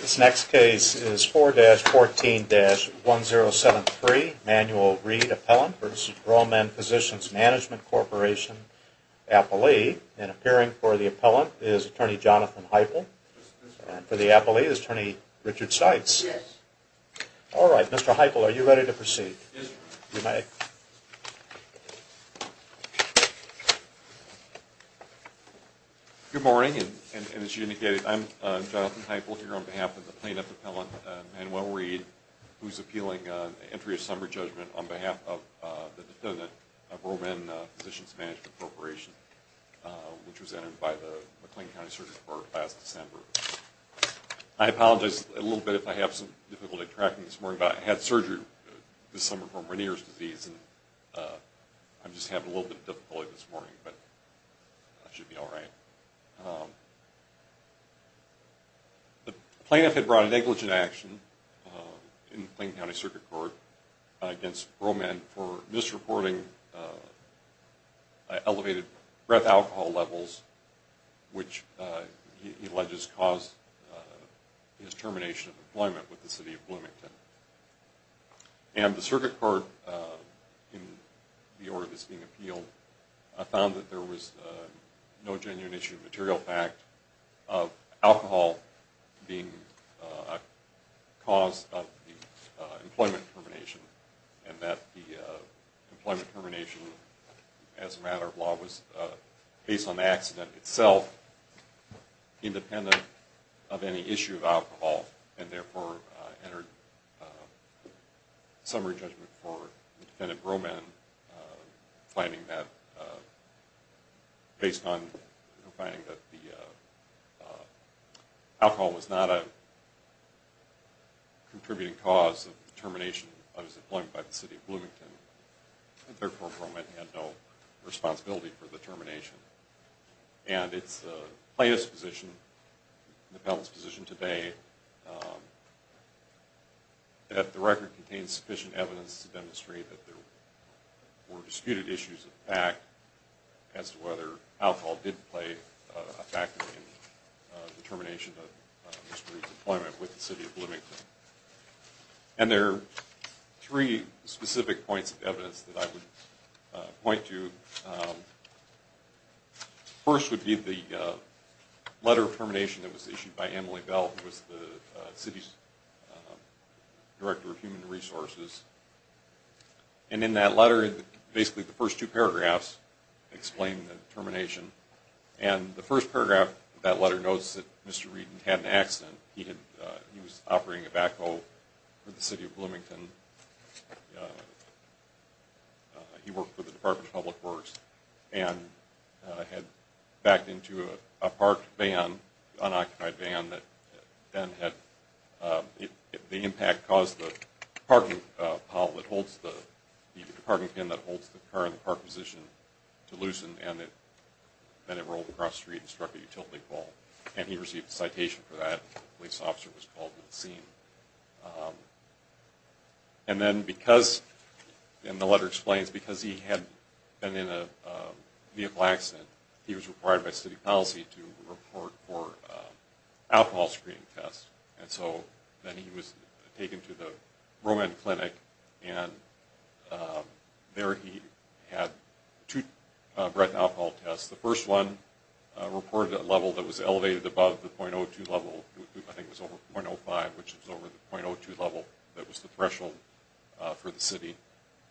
This next case is 4-14-1073, Manual Read Appellant v. Bro Menn Physicians Management Corporation, Appellee. And appearing for the appellant is Attorney Jonathan Heupel. And for the appellee is Attorney Richard Seitz. Yes. All right, Mr. Heupel, are you ready to proceed? Yes. You may. Good morning. And as you indicated, I'm Jonathan Heupel here on behalf of the plaintiff appellant, Manual Read, who's appealing entry of summary judgment on behalf of the defendant of Bro Menn Physicians Management Corporation, which was entered by the McLean County Surgery Board last December. I apologize a little bit if I have some difficulty tracking this morning, but I had surgery this summer from Rennier's disease, and I just have a little bit of difficulty this morning, but I should be all right. The plaintiff had brought a negligent action in the McLean County Circuit Court against Bro Menn for misreporting elevated breath alcohol levels, which he alleges caused his termination of employment with the city of Bloomington. And the circuit court, in the order that's being appealed, found that there was no genuine issue of material fact of alcohol being a cause of the employment termination, and that the employment termination as a matter of law was, based on the accident itself, independent of any issue of alcohol, and therefore entered summary judgment for the defendant Bro Menn, finding that alcohol was not a contributing cause of termination of his employment by the city of Bloomington, and therefore Bro Menn had no responsibility for the termination. And it's the plaintiff's position, the panel's position today, that the record contains sufficient evidence to demonstrate that there were disputed issues of fact as to whether alcohol did play a factor in the termination of Mr. Reed's employment with the city of Bloomington. And there are three specific points of evidence that I would point to. First would be the letter of termination that was issued by Emily Bell, who was the city's director of human resources. And in that letter, basically the first two paragraphs explain the termination. And the first paragraph of that letter notes that Mr. Reed had an accident. He was operating a backhoe for the city of Bloomington. He worked for the Department of Public Works and had backed into a park van, unoccupied van, that then had the impact caused the parking pile that holds the parking pen that holds the car in the park position to loosen, and then it rolled across the street and struck a utility pole. And he received a citation for that. The police officer was called to the scene. And then because, and the letter explains, because he had been in a vehicle accident, he was required by city policy to report for alcohol screening tests. And so then he was taken to the Roman Clinic, and there he had two breath alcohol tests. The first one reported a level that was elevated above the .02 level, I think it was over .05, which was over the .02 level that was the threshold for the city.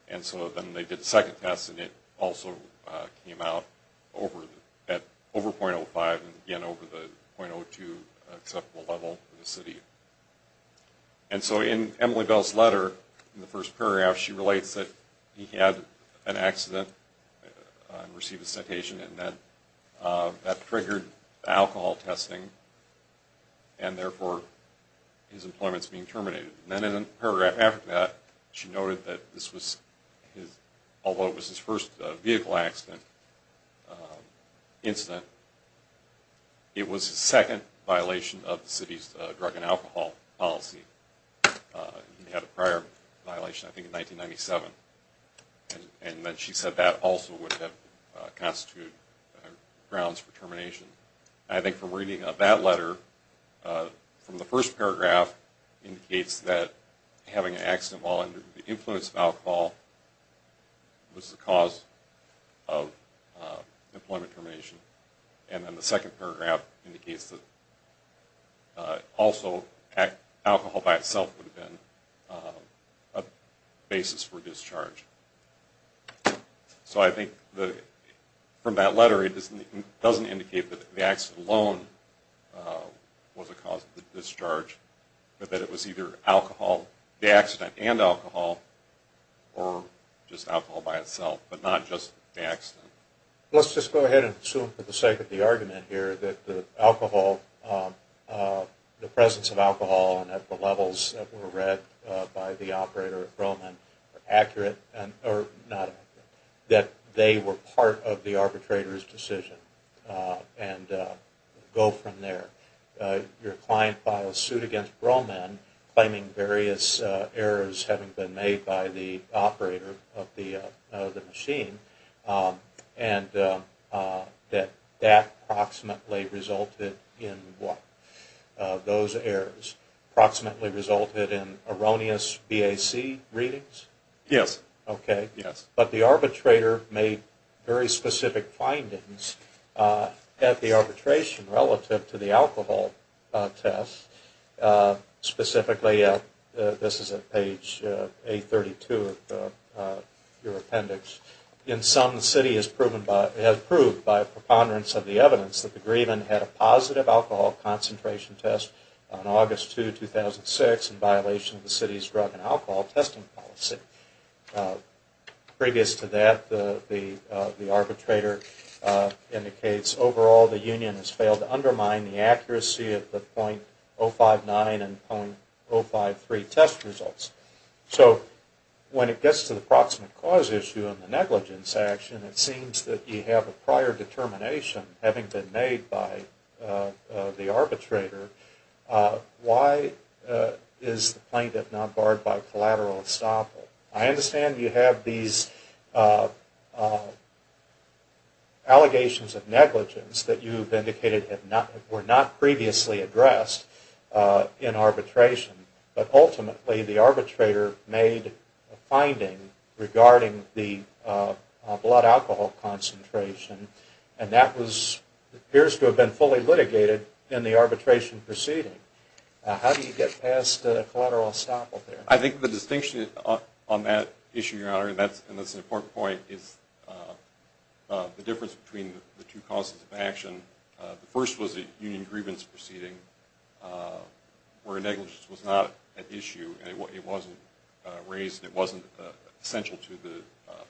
And so then they did a second test, and it also came out over .05, and again over the .02 acceptable level for the city. And so in Emily Bell's letter, in the first paragraph, she relates that he had an accident and received a citation, and then that triggered alcohol testing, and therefore his employment is being terminated. And then in a paragraph after that, she noted that this was his, although it was his first vehicle accident, incident, it was his second violation of the city's drug and alcohol policy. He had a prior violation, I think, in 1997. And then she said that also would have constituted grounds for termination. I think from reading of that letter, from the first paragraph, indicates that having an accident while under the influence of alcohol was the cause of employment termination. And then the second paragraph indicates that also alcohol by itself would have been a basis for discharge. So I think from that letter, it doesn't indicate that the accident alone was a cause of the discharge, but that it was either alcohol, the accident and alcohol, or just alcohol by itself, but not just the accident. Let's just go ahead and assume for the sake of the argument here that the alcohol, the presence of alcohol at the levels that were read by the operator at Broman are accurate, or not accurate, that they were part of the arbitrator's decision, and go from there. Your client filed suit against Broman, claiming various errors having been made by the operator of the machine, and that that approximately resulted in what? Those errors approximately resulted in erroneous BAC readings? Yes. Okay. Yes. But the arbitrator made very specific findings at the arbitration relative to the alcohol test. Specifically, this is at page 832 of your appendix. In sum, the city has proved by preponderance of the evidence that the grievant had a positive alcohol concentration test on August 2, 2006 in violation of the city's drug and alcohol testing policy. Previous to that, the arbitrator indicates overall the union has failed to undermine the accuracy of the .059 and .053 test results. So when it gets to the approximate cause issue and the negligence action, it seems that you have a prior determination having been made by the arbitrator, why is the plaintiff not barred by collateral estoppel? I understand you have these allegations of negligence that you've indicated were not previously addressed in arbitration, but ultimately the arbitrator made a finding regarding the blood alcohol concentration and that appears to have been fully litigated in the arbitration proceeding. How do you get past collateral estoppel there? I think the distinction on that issue, Your Honor, and that's an important point, the first was the union grievance proceeding where negligence was not an issue, it wasn't raised, it wasn't essential to the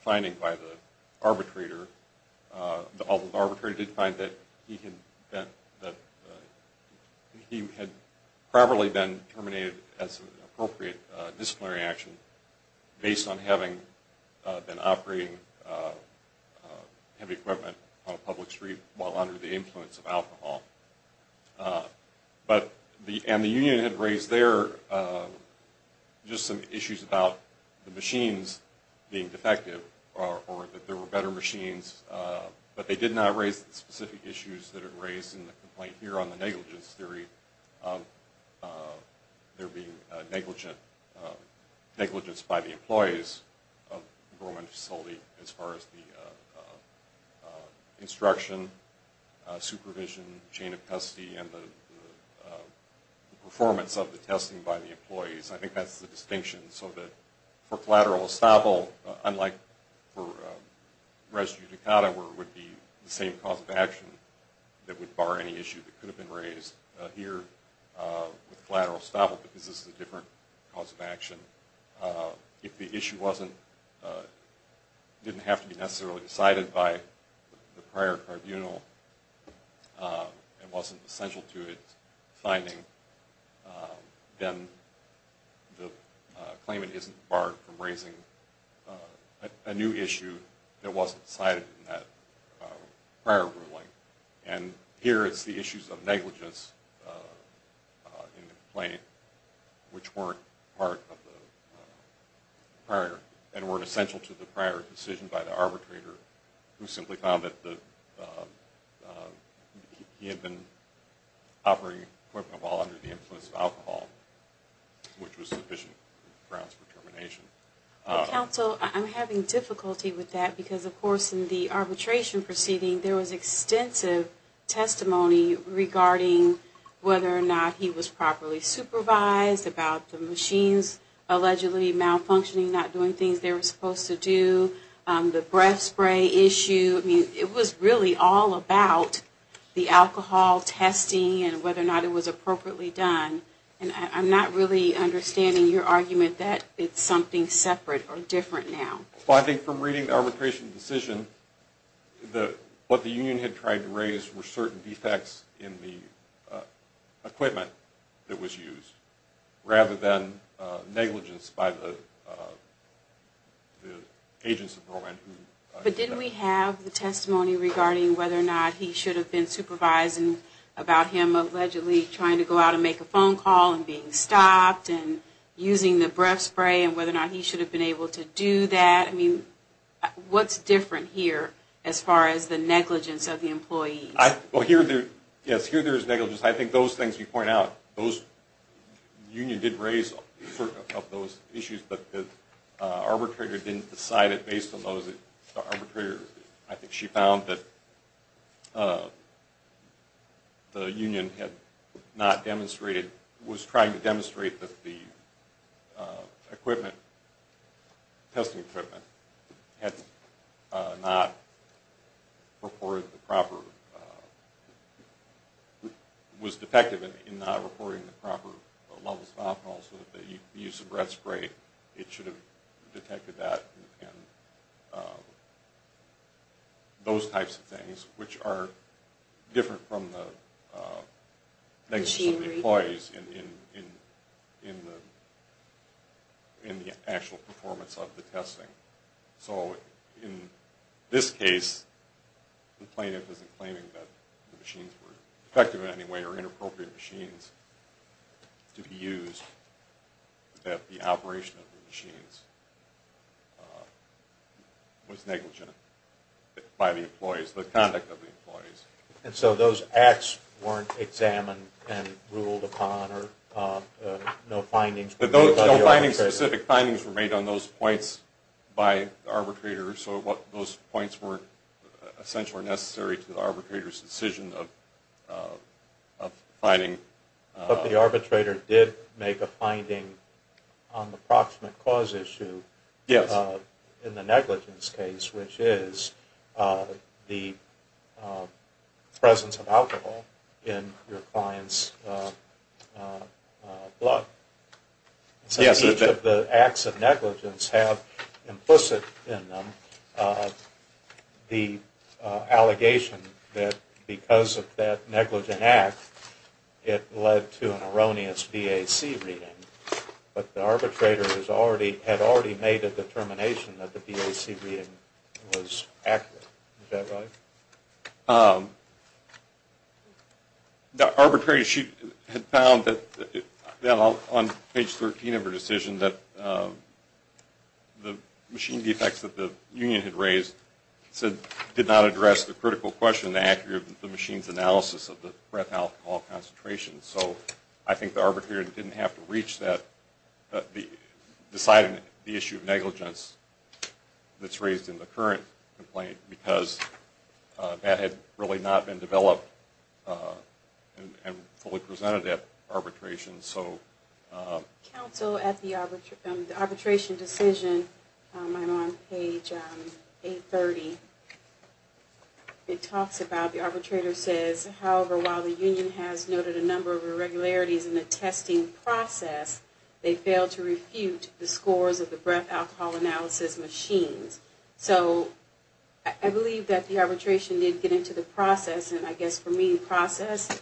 finding by the arbitrator, although the arbitrator did find that he had probably been terminated as an appropriate disciplinary action based on having been operating heavy equipment on a public street while under the influence of alcohol. And the union had raised there just some issues about the machines being defective or that there were better machines, but they did not raise the specific issues that it raised in the complaint here on the negligence theory of there being negligence by the employees of a government facility as far as the instruction, supervision, chain of custody and the performance of the testing by the employees. I think that's the distinction so that for collateral estoppel, unlike for res judicata where it would be the same cause of action that would bar any issue that could have been raised, here with collateral estoppel because this is a different cause of action, if the issue didn't have to be necessarily decided by the prior tribunal and wasn't essential to its finding, then the claimant isn't barred from raising a new issue that wasn't cited in that prior ruling. And here it's the issues of negligence in the complaint which weren't part of the prior and weren't essential to the prior decision by the arbitrator who simply found that he had been operating equipment under the influence of alcohol which was sufficient grounds for termination. Counsel, I'm having difficulty with that because of course in the arbitration proceeding there was extensive testimony regarding whether or not he was properly supervised about the machines allegedly malfunctioning, not doing things they were supposed to do, the breath spray issue. It was really all about the alcohol testing and whether or not it was appropriately done and I'm not really understanding your argument that it's something separate or different now. Well, I think from reading the arbitration decision, what the union had tried to raise were certain defects in the equipment that was used rather than negligence by the agents involved. But didn't we have the testimony regarding whether or not he should have been supervising about him allegedly trying to go out and make a phone call and being stopped and using the breath spray and whether or not he should have been able to do that? I mean, what's different here as far as the negligence of the employee? Well, yes, here there is negligence. I think those things you point out, the union did raise those issues, but the arbitrator didn't decide it based on those. The arbitrator, I think she found that the union had not demonstrated, was trying to demonstrate that the equipment, testing equipment, had not reported the proper, was defective in not reporting the proper levels of alcohol so that the use of breath spray, it should have detected that and those types of things which are different from the negligence of the employees in the actual performance of the testing. So in this case, the plaintiff isn't claiming that the machines were defective in any way or inappropriate machines to be used, that the operation of the machines was negligent by the employees, the conduct of the employees. And so those acts weren't examined and ruled upon or no findings? No findings, specific findings were made on those points by the arbitrator, so those points weren't essential or necessary to the arbitrator's decision of finding. But the arbitrator did make a finding on the approximate cause issue in the negligence case, which is the presence of alcohol in your client's blood. So each of the acts of negligence have implicit in them the allegation that because of that negligent act, it led to an erroneous BAC reading, but the arbitrator had already made a determination that the BAC reading was accurate, is that right? Yes. The arbitrator, she had found that on page 13 of her decision that the machine defects that the union had raised did not address the critical question, the accuracy of the machine's analysis of the breath alcohol concentration. So I think the arbitrator didn't have to reach that, deciding the issue of negligence that's raised in the current complaint because that had really not been developed and fully presented at arbitration. Counsel, at the arbitration decision, I'm on page 830, it talks about, the arbitrator says, however, while the union has noted a number of irregularities in the testing process, they failed to refute the scores of the breath alcohol analysis machines. So I believe that the arbitration did get into the process, and I guess for me, the process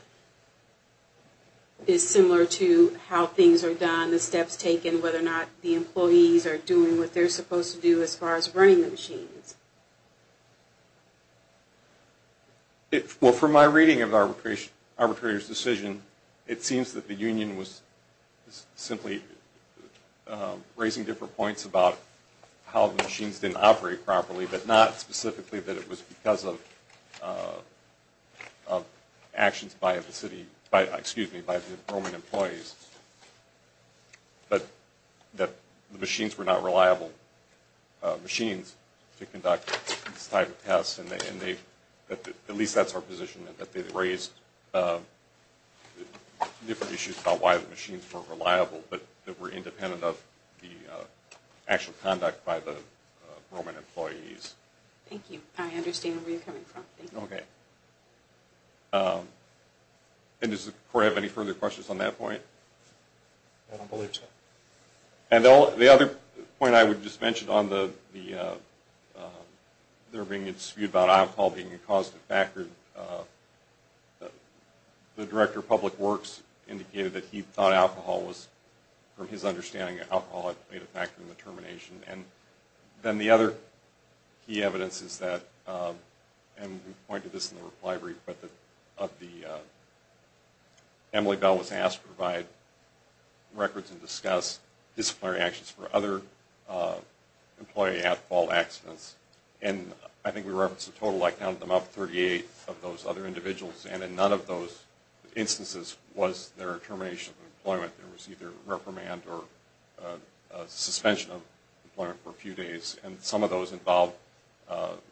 is similar to how things are done, the steps taken, whether or not the employees are doing what they're supposed to do as far as running the machines. Well, from my reading of the arbitrator's decision, it seems that the union was simply raising different points about how the machines didn't operate properly, but not specifically that it was because of actions by the Roman employees, but that the machines were not reliable machines to conduct this type of test, and at least that's our position, that they raised different issues about why the machines weren't reliable, but that were independent of the actual conduct by the Roman employees. Thank you. I understand where you're coming from. Okay. And does the court have any further questions on that point? I don't believe so. And the other point I would just mention on there being a dispute about alcohol being a causative factor, the director of public works indicated that he thought alcohol was, from his understanding, alcohol had played a factor in the termination. And then the other key evidence is that, and we pointed this in the reply brief, but Emily Bell was asked to provide records and discuss disciplinary actions for other employee alcohol accidents, and I think we referenced a total, I counted them up, 38 of those other individuals, and in none of those instances was there a termination of employment. There was either reprimand or a suspension of employment for a few days, and some of those involved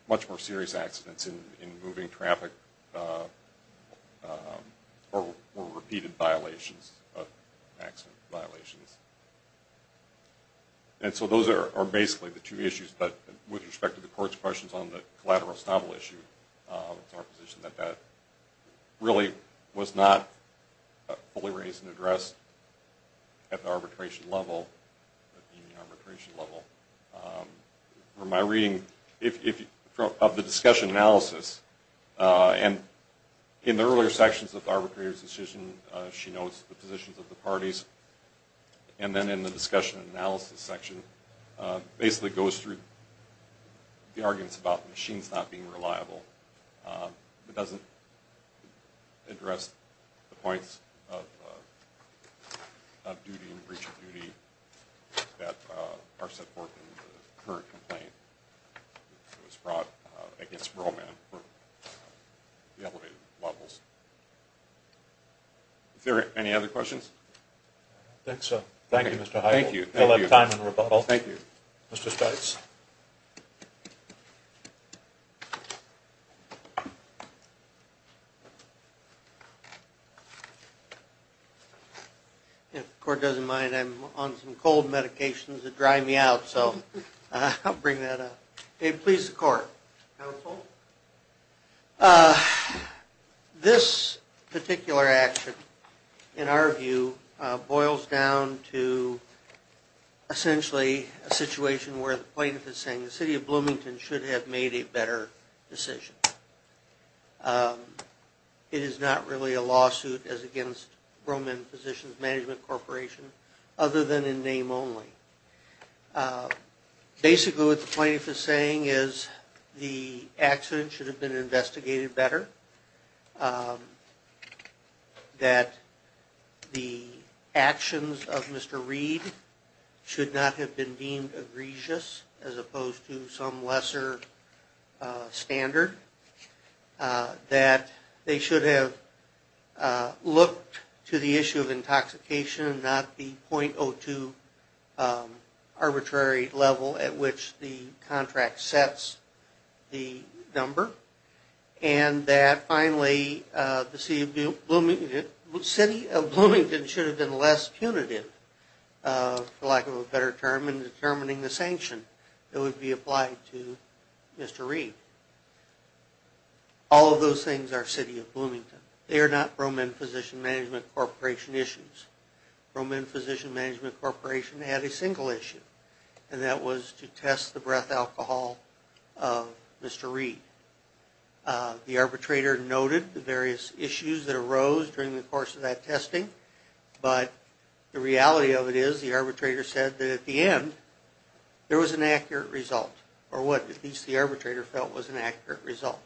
much more serious accidents in moving traffic, or repeated violations of accident violations. And so those are basically the two issues, but with respect to the court's questions on the collateral estoppel issue, it's our position that that really was not fully raised and addressed at the arbitration level, at the union arbitration level. From my reading of the discussion analysis, and in the earlier sections of the arbitrator's decision she notes the positions of the parties, and then in the discussion analysis section, basically goes through the arguments about machines not being reliable. It doesn't address the points of duty and breach of duty that are set forth in the current complaint that was brought against Roman for the elevated levels. Is there any other questions? I don't think so. Thank you, Mr. Heigl. We'll have time in rebuttal. Thank you. Mr. Stites. If the court doesn't mind, I'm on some cold medications that dry me out, so I'll bring that up. It pleases the court. Counsel? Well, this particular action, in our view, boils down to essentially a situation where the plaintiff is saying the city of Bloomington should have made a better decision. It is not really a lawsuit as against Roman Physicians Management Corporation, other than in name only. Basically, what the plaintiff is saying is the accident should have been investigated better, that the actions of Mr. Reed should not have been deemed egregious as opposed to some lesser standard, that they should have looked to the issue of intoxication and not the .02 arbitrary level at which the contract sets the number, and that finally the city of Bloomington should have been less punitive, for lack of a better term, in determining the sanction that would be applied to Mr. Reed. All of those things are city of Bloomington. They are not Roman Physician Management Corporation issues. Roman Physician Management Corporation had a single issue, and that was to test the breath alcohol of Mr. Reed. The arbitrator noted the various issues that arose during the course of that testing, but the reality of it is the arbitrator said that at the end there was an accurate result, or what at least the arbitrator felt was an accurate result.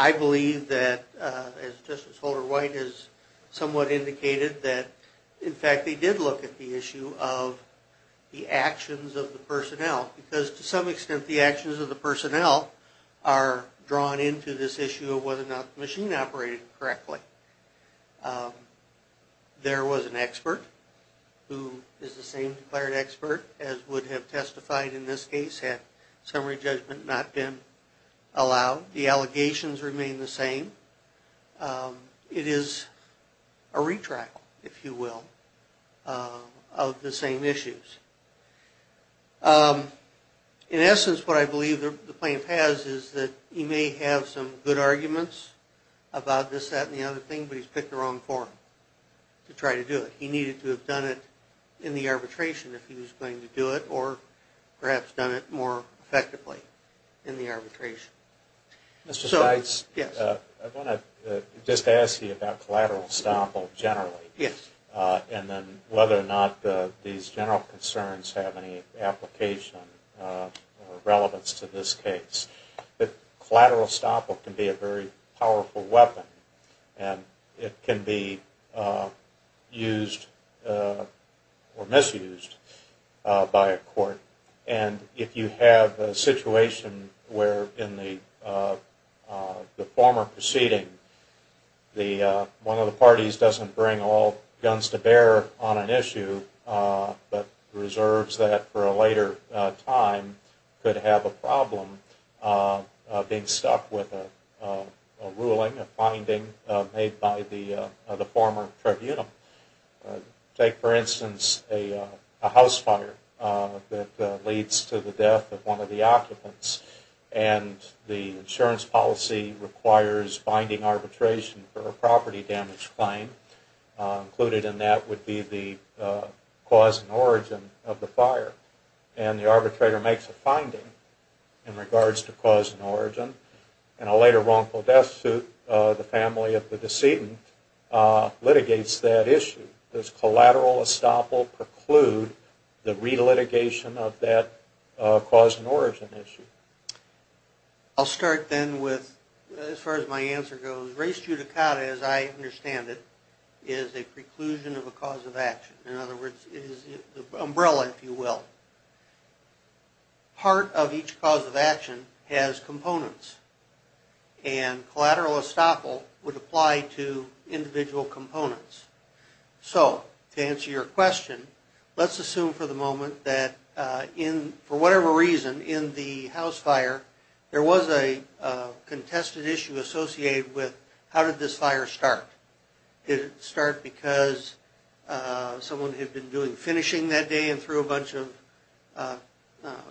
I believe that, as Justice Holder-White has somewhat indicated, that in fact they did look at the issue of the actions of the personnel, because to some extent the actions of the personnel are drawn into this issue of whether or not the machine operated correctly. There was an expert who is the same declared expert as would have testified in this case had summary judgment not been allowed. The allegations remain the same. It is a retrial, if you will, of the same issues. In essence what I believe the plaintiff has is that he may have some good arguments about this, but he has picked the wrong forum to try to do it. He needed to have done it in the arbitration if he was going to do it, or perhaps done it more effectively in the arbitration. Mr. Steitz, I want to just ask you about collateral estoppel generally, and then whether or not these general concerns have any application or relevance to this case. Collateral estoppel can be a very powerful weapon, and it can be used or misused by a court. If you have a situation where in the former proceeding one of the parties doesn't bring all guns to bear on an issue, but reserves that for a later time, could have a problem being stuck with a ruling, a finding made by the former tribunal. Take for instance a house fire that leads to the death of one of the occupants, and the insurance policy requires binding arbitration for a property damage claim. Included in that would be the cause and origin of the fire, and the arbitrator makes a finding in regards to cause and origin, and a later wrongful death suit the family of the decedent litigates that issue. Does collateral estoppel preclude the relitigation of that cause and origin issue? I'll start then with, as far as my answer goes, race judicata as I understand it is a preclusion of a cause of action. In other words, it is the umbrella if you will. Part of each cause of action has components, and collateral estoppel would apply to individual components. So, to answer your question, let's assume for the moment that for whatever reason in the house fire, there was a contested issue associated with how did this fire start. Did it start because someone had been doing finishing that day and threw a bunch of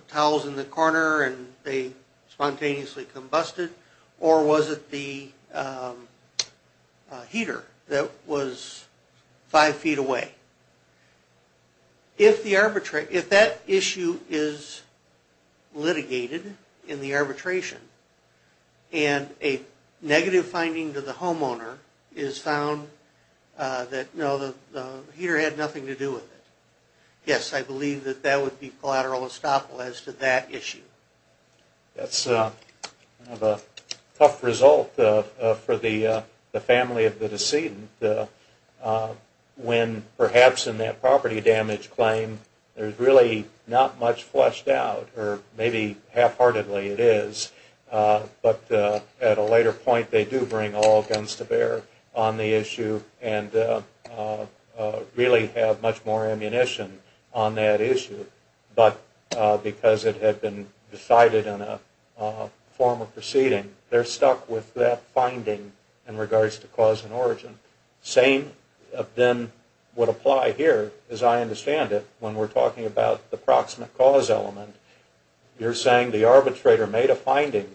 towels in the corner and they spontaneously combusted, or was it the heater that was five feet away? If that issue is litigated in the arbitration, and a negative finding to the homeowner is found that no, the heater had nothing to do with it, yes, I believe that that would be collateral estoppel as to that issue. That's a tough result for the family of the decedent, when perhaps in that property damage claim there's really not much fleshed out, or maybe half-heartedly it is, but at a later point they do bring all guns to bear on the issue and really have much more ammunition on that issue. But because it had been decided in a form of proceeding, they're stuck with that finding in regards to cause and origin. Same then would apply here, as I understand it, when we're talking about the proximate cause element. You're saying the arbitrator made a finding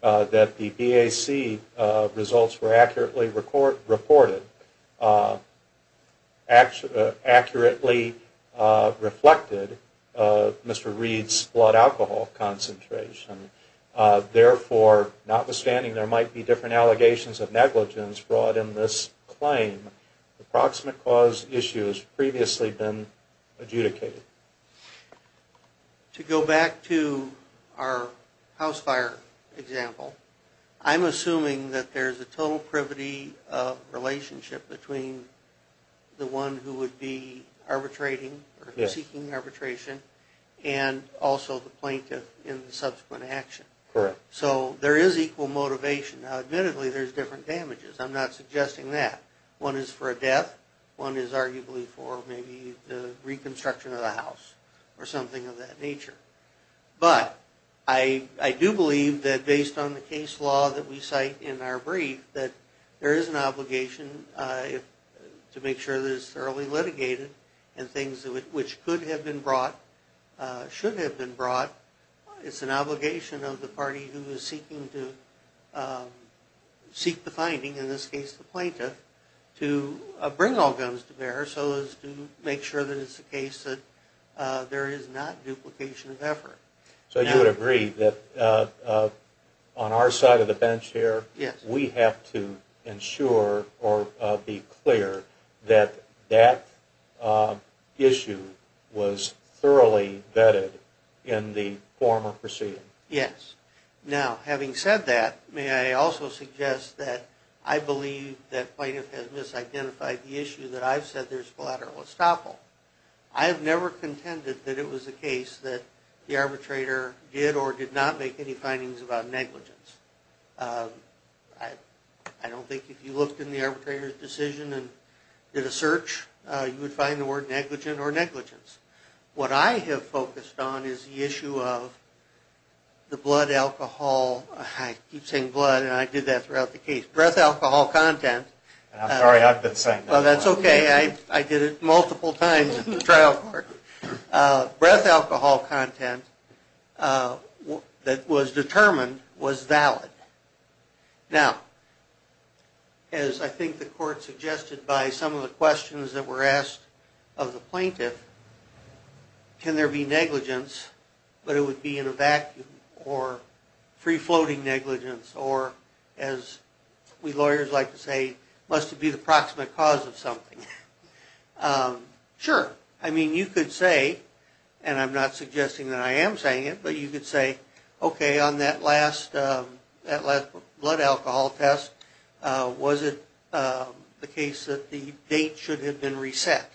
that the BAC results were accurately reported, accurately reflected Mr. Reed's blood alcohol concentration. Therefore, notwithstanding there might be different allegations of negligence brought in this claim, the proximate cause issue has previously been adjudicated. To go back to our house fire example, I'm assuming that there's a total privity relationship between the one who would be arbitrating or seeking arbitration and also the plaintiff in the subsequent action. Correct. So there is equal motivation. Now admittedly there's different damages, I'm not suggesting that. One is for a death, one is arguably for maybe the reconstruction of the house, or something of that nature. But I do believe that based on the case law that we cite in our brief, that there is an obligation to make sure that it's thoroughly litigated and things which could have been brought should have been brought. It's an obligation of the party who is seeking to seek the finding, in this case the plaintiff, to bring all guns to bear so as to make sure that it's the case that there is not duplication of effort. So you would agree that on our side of the bench here, we have to ensure or be clear that that issue was thoroughly vetted in the former proceeding. Yes. Now having said that, may I also suggest that I believe that plaintiff has misidentified the issue that I've said there's collateral estoppel. I have never contended that it was the case that the arbitrator did or did not make any findings about negligence. I don't think if you looked in the arbitrator's decision and did a search, you would find the word negligent or negligence. What I have focused on is the issue of the blood alcohol, I keep saying blood and I did that throughout the case, breath alcohol content. I'm sorry, I've been saying that. Well, that's okay. I did it multiple times at the trial court. Breath alcohol content that was determined was valid. Now, as I think the court suggested by some of the questions that were asked of the plaintiff, can there be negligence but it would be in a vacuum or free-floating negligence or as we lawyers like to say, must it be the proximate cause of something? Sure. I mean, you could say, and I'm not suggesting that I am saying it, but you could say, okay, on that last blood alcohol test, was it the case that the date should have been reset?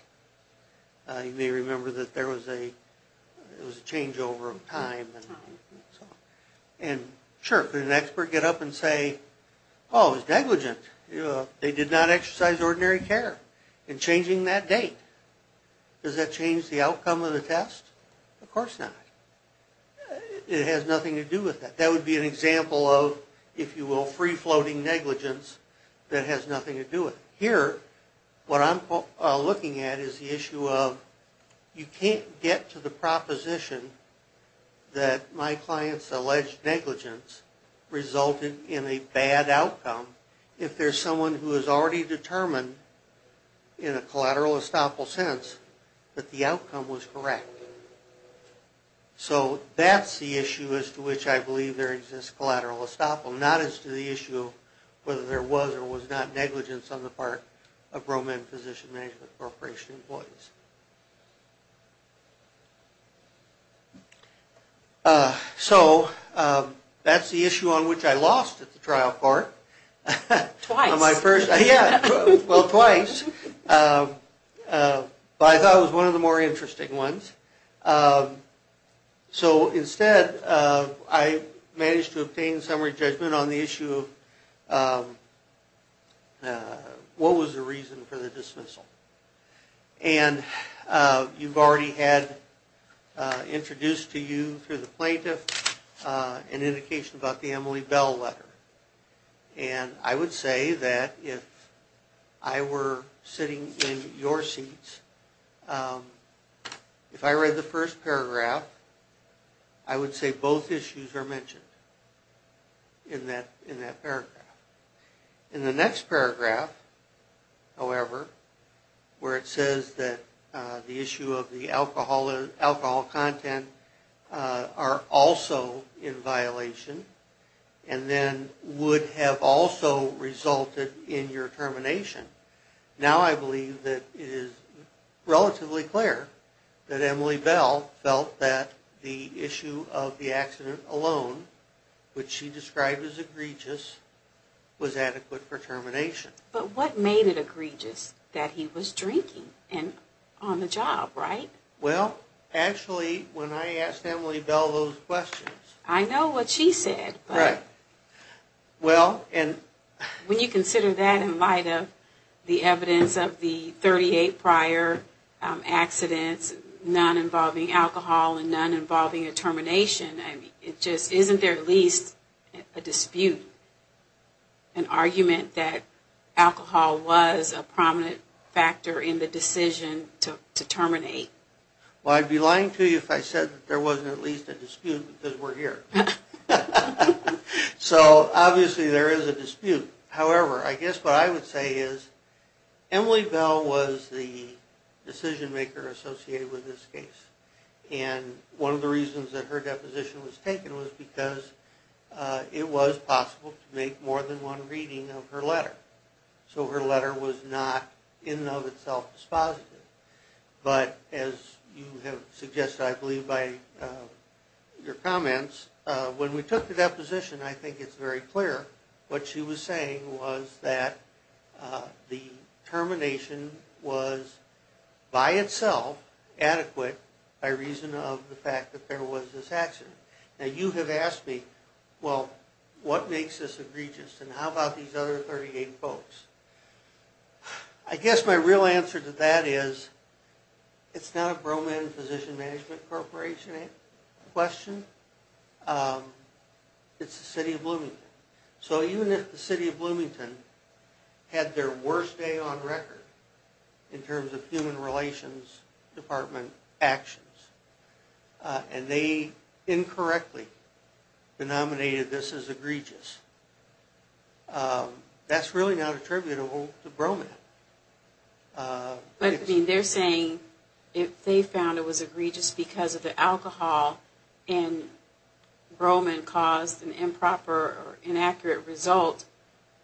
You may remember that there was a changeover of time. And sure, could an expert get up and say, oh, it was negligent. They did not exercise ordinary care in changing that date. Does that change the outcome of the test? Of course not. It has nothing to do with that. That would be an example of, if you will, free-floating negligence that has nothing to do with it. Here, what I'm looking at is the issue of you can't get to the proposition that my client's alleged negligence resulted in a bad outcome if there's someone who has already determined, in a collateral estoppel sense, that the outcome was correct. So that's the issue as to which I believe there exists collateral estoppel, not as to the issue whether there was or was not negligence on the part of Roman Physician Management Corporation employees. So that's the issue on which I lost at the trial court. Twice. Yeah, well, twice. But I thought it was one of the more interesting ones. So instead, I managed to obtain summary judgment on the issue of what was the reason for the dismissal. And you've already had introduced to you through the plaintiff an indication about the Emily Bell letter. And I would say that if I were sitting in your seats, if I read the first paragraph, I would say both issues are mentioned in that paragraph. In the next paragraph, however, where it says that the issue of the alcohol content are also in violation, and then would have also resulted in your termination, now I believe that it is relatively clear that Emily Bell felt that the issue of the accident alone, which she described as egregious, was adequate for termination. But what made it egregious, that he was drinking on the job, right? Well, actually, when I asked Emily Bell those questions. I know what she said, but when you consider that in light of the evidence of the 38 prior accidents, none involving alcohol and none involving a termination, isn't there at least a dispute, an argument that alcohol was a prominent factor in the decision to terminate? Well, I'd be lying to you if I said that there wasn't at least a dispute, because we're here. So, obviously there is a dispute. However, I guess what I would say is, Emily Bell was the decision maker associated with this case. And one of the reasons that her deposition was taken was because it was possible to make more than one reading of her letter. So her letter was not in and of itself dispositive. But as you have suggested, I believe, by your comments, when we took the deposition, I think it's very clear, what she was saying was that the termination was by itself adequate by reason of the fact that there was this accident. Now, you have asked me, well, what makes this egregious, and how about these other 38 folks? I guess my real answer to that is, it's not a Bro-Man Physician Management Corporation question. It's the City of Bloomington. So even if the City of Bloomington had their worst day on record in terms of human relations department actions, and they incorrectly denominated this as egregious, that's really not attributable to Bro-Man. But, I mean, they're saying if they found it was egregious because of the alcohol, and Bro-Man caused an improper or inaccurate result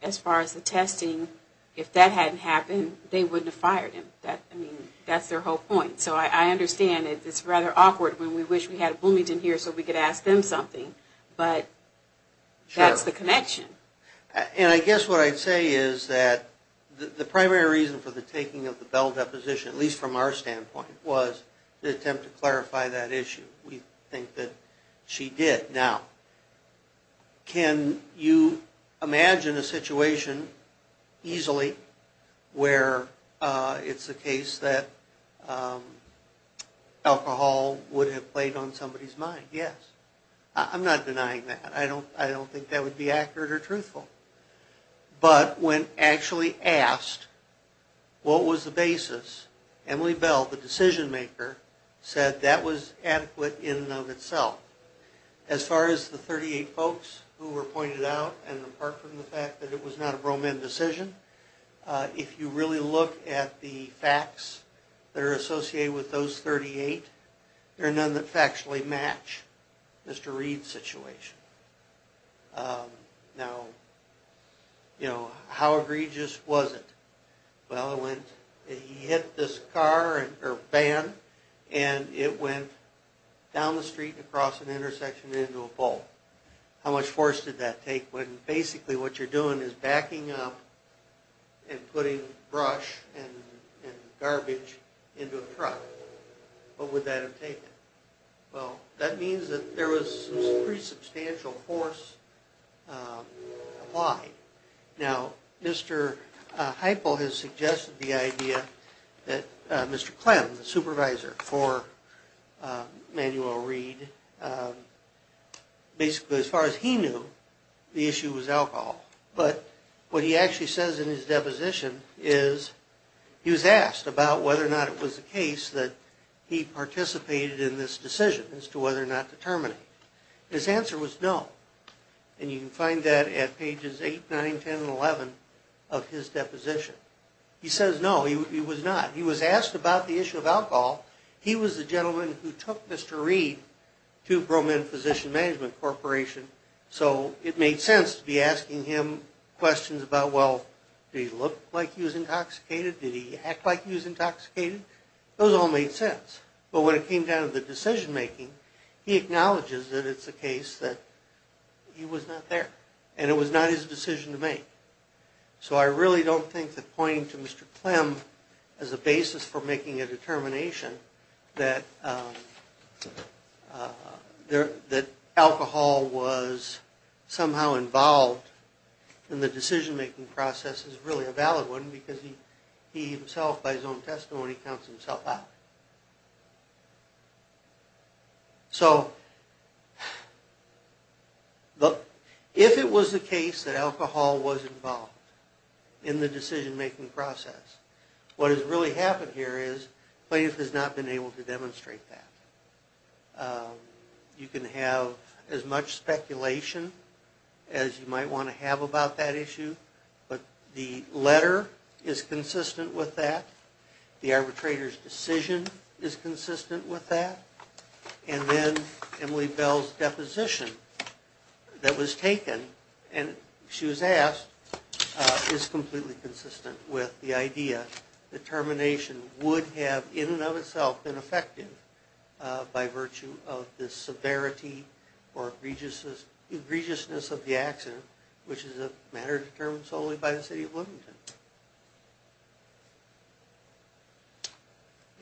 as far as the testing, if that hadn't happened, they wouldn't have fired him. I mean, that's their whole point. So I understand it's rather awkward when we wish we had Bloomington here so we could ask them something, but that's the connection. And I guess what I'd say is that the primary reason for the taking of the Bell deposition, at least from our standpoint, was the attempt to clarify that issue. We think that she did. Now, can you imagine a situation easily where it's the case that alcohol would have played on somebody's mind? Yes. I'm not denying that. I don't think that would be accurate or truthful. But when actually asked what was the basis, Emily Bell, the decision maker, said that was adequate in and of itself. As far as the 38 folks who were pointed out, and apart from the fact that it was not a Bro-Man decision, if you really look at the facts that are associated with those 38, there are none that factually match Mr. Reed's situation. Now, you know, how egregious was it? Well, he hit this car, or van, and it went down the street and across an intersection and into a pole. How much force did that take? Basically what you're doing is backing up and putting brush and garbage into a truck. What would that have taken? Well, that means that there was some pretty substantial force applied. Now, Mr. Heiple has suggested the idea that Mr. Clem, the supervisor for Manuel Reed, basically as far as he knew, the issue was alcohol. But what he actually says in his deposition is he was asked about whether or not it was the case that he participated in this decision as to whether or not to terminate it. His answer was no. And you can find that at pages 8, 9, 10, and 11 of his deposition. He says no, he was not. He was asked about the issue of alcohol. He was the gentleman who took Mr. Reed to Bro-Man Physician Management Corporation, so it made sense to be asking him questions about, well, did he look like he was intoxicated? Did he act like he was intoxicated? Those all made sense. But when it came down to the decision-making, he acknowledges that it's the case that he was not there and it was not his decision to make. So I really don't think that pointing to Mr. Clem as a basis for making a determination that alcohol was somehow involved in the decision-making process is really a valid one because he himself, by his own testimony, counts himself out. So if it was the case that alcohol was involved in the decision-making process, what has really happened here is Clem has not been able to demonstrate that. You can have as much speculation as you might want to have about that issue, but the letter is consistent with that. The arbitrator's decision is consistent with that. And then Emily Bell's deposition that was taken, and she was asked, is completely consistent with the idea that termination would have in and of itself been effective by virtue of the severity or egregiousness of the accident, which is a matter determined solely by the city of Bloomington.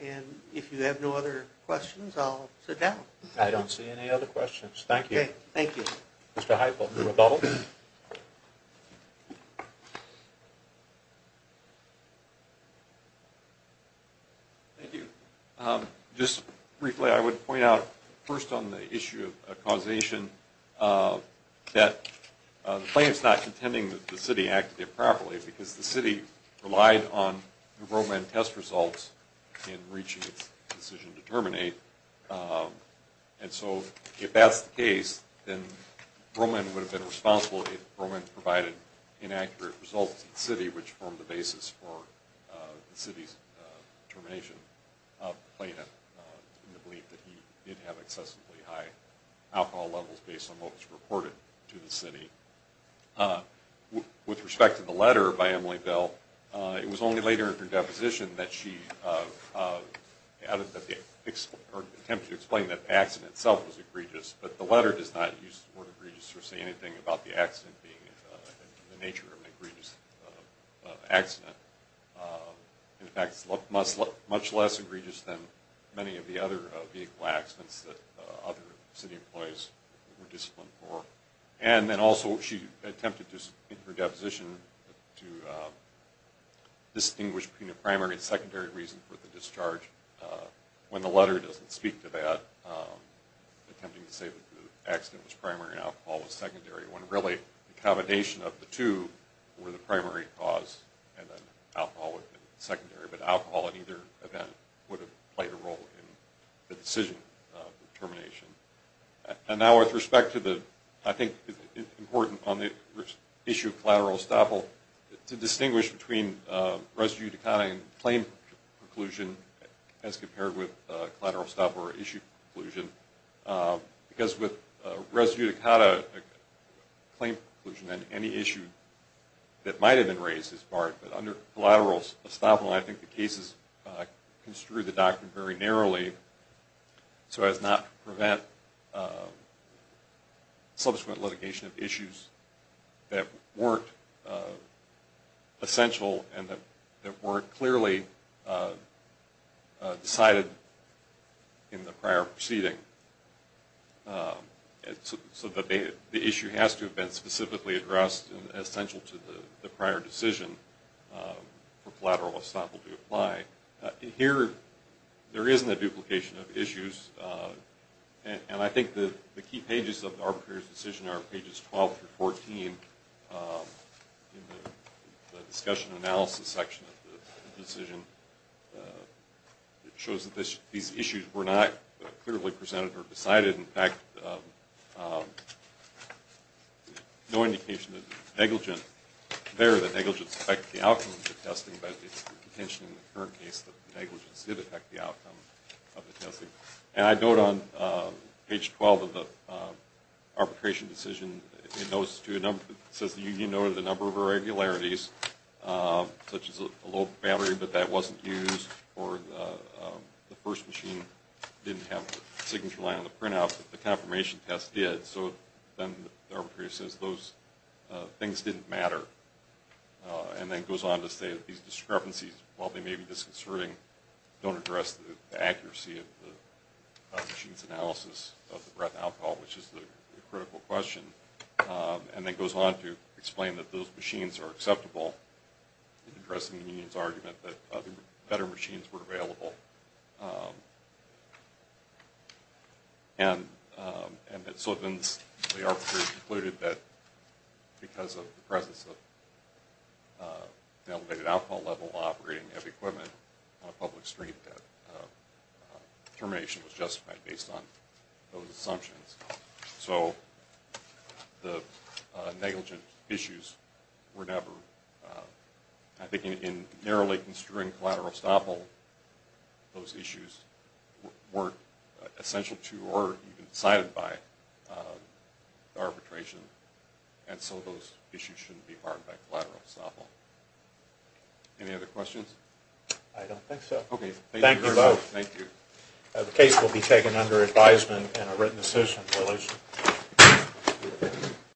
And if you have no other questions, I'll sit down. I don't see any other questions. Thank you. Okay. Thank you. Mr. Heifel for rebuttal. Thank you. Just briefly, I would point out first on the issue of causation that the claim is not contending that the city acted improperly because the city relied on the Roman test results in reaching its decision to terminate. And so if that's the case, then Roman would have been responsible if Roman provided inaccurate results to the city, which formed the basis for the city's termination of the plaintiff in the belief that he didn't have excessively high alcohol levels based on what was reported to the city. With respect to the letter by Emily Bell, it was only later in her deposition that she attempted to explain that the accident itself was egregious, but the letter does not use the word egregious or say anything about the accident being the nature of an egregious accident. In fact, it's much less egregious than many of the other vehicle accidents that other city employees were disciplined for. And then also she attempted in her deposition to distinguish between a primary and secondary reason for the discharge. When the letter doesn't speak to that, attempting to say that the accident was primary and alcohol was secondary, when really the combination of the two were the primary cause and then alcohol would have been secondary, but alcohol in either event would have played a role in the decision for termination. And now with respect to the, I think it's important on the issue of collateral estoppel, to distinguish between res judicata and claim preclusion as compared with collateral estoppel or issue preclusion, because with res judicata claim preclusion and any issue that might have been raised as part, but under collateral estoppel I think the case is construed the doctrine very narrowly so as not to prevent subsequent litigation of issues that weren't essential and that weren't clearly decided in the prior proceeding. So the issue has to have been specifically addressed and essential to the prior decision for collateral estoppel to apply. Here there isn't a duplication of issues. And I think the key pages of the arbitrator's decision are pages 12 through 14 in the discussion analysis section of the decision. It shows that these issues were not clearly presented or decided. In fact, no indication of negligence there. It's not clear that negligence affected the outcome of the testing, but it's the contention in the current case that negligence did affect the outcome of the testing. And I note on page 12 of the arbitration decision, it says the union noted a number of irregularities, such as a low battery, but that wasn't used, or the first machine didn't have the signature line on the printout, but the confirmation test did. So then the arbitrator says those things didn't matter, and then goes on to say that these discrepancies, while they may be disconcerting, don't address the accuracy of the machine's analysis of the breath alcohol, which is the critical question, and then goes on to explain that those machines are acceptable in addressing the union's argument that better machines were available. And so then the arbitrator concluded that because of the presence of the elevated alcohol level operating of equipment on a public street, that termination was justified based on those assumptions. So the negligent issues were never, I think, in narrowly construing collateral estoppel, those issues weren't essential to or even decided by arbitration, and so those issues shouldn't be harmed by collateral estoppel. Any other questions? I don't think so. Okay, thank you very much. Thank you. The case will be taken under advisement in a written decision.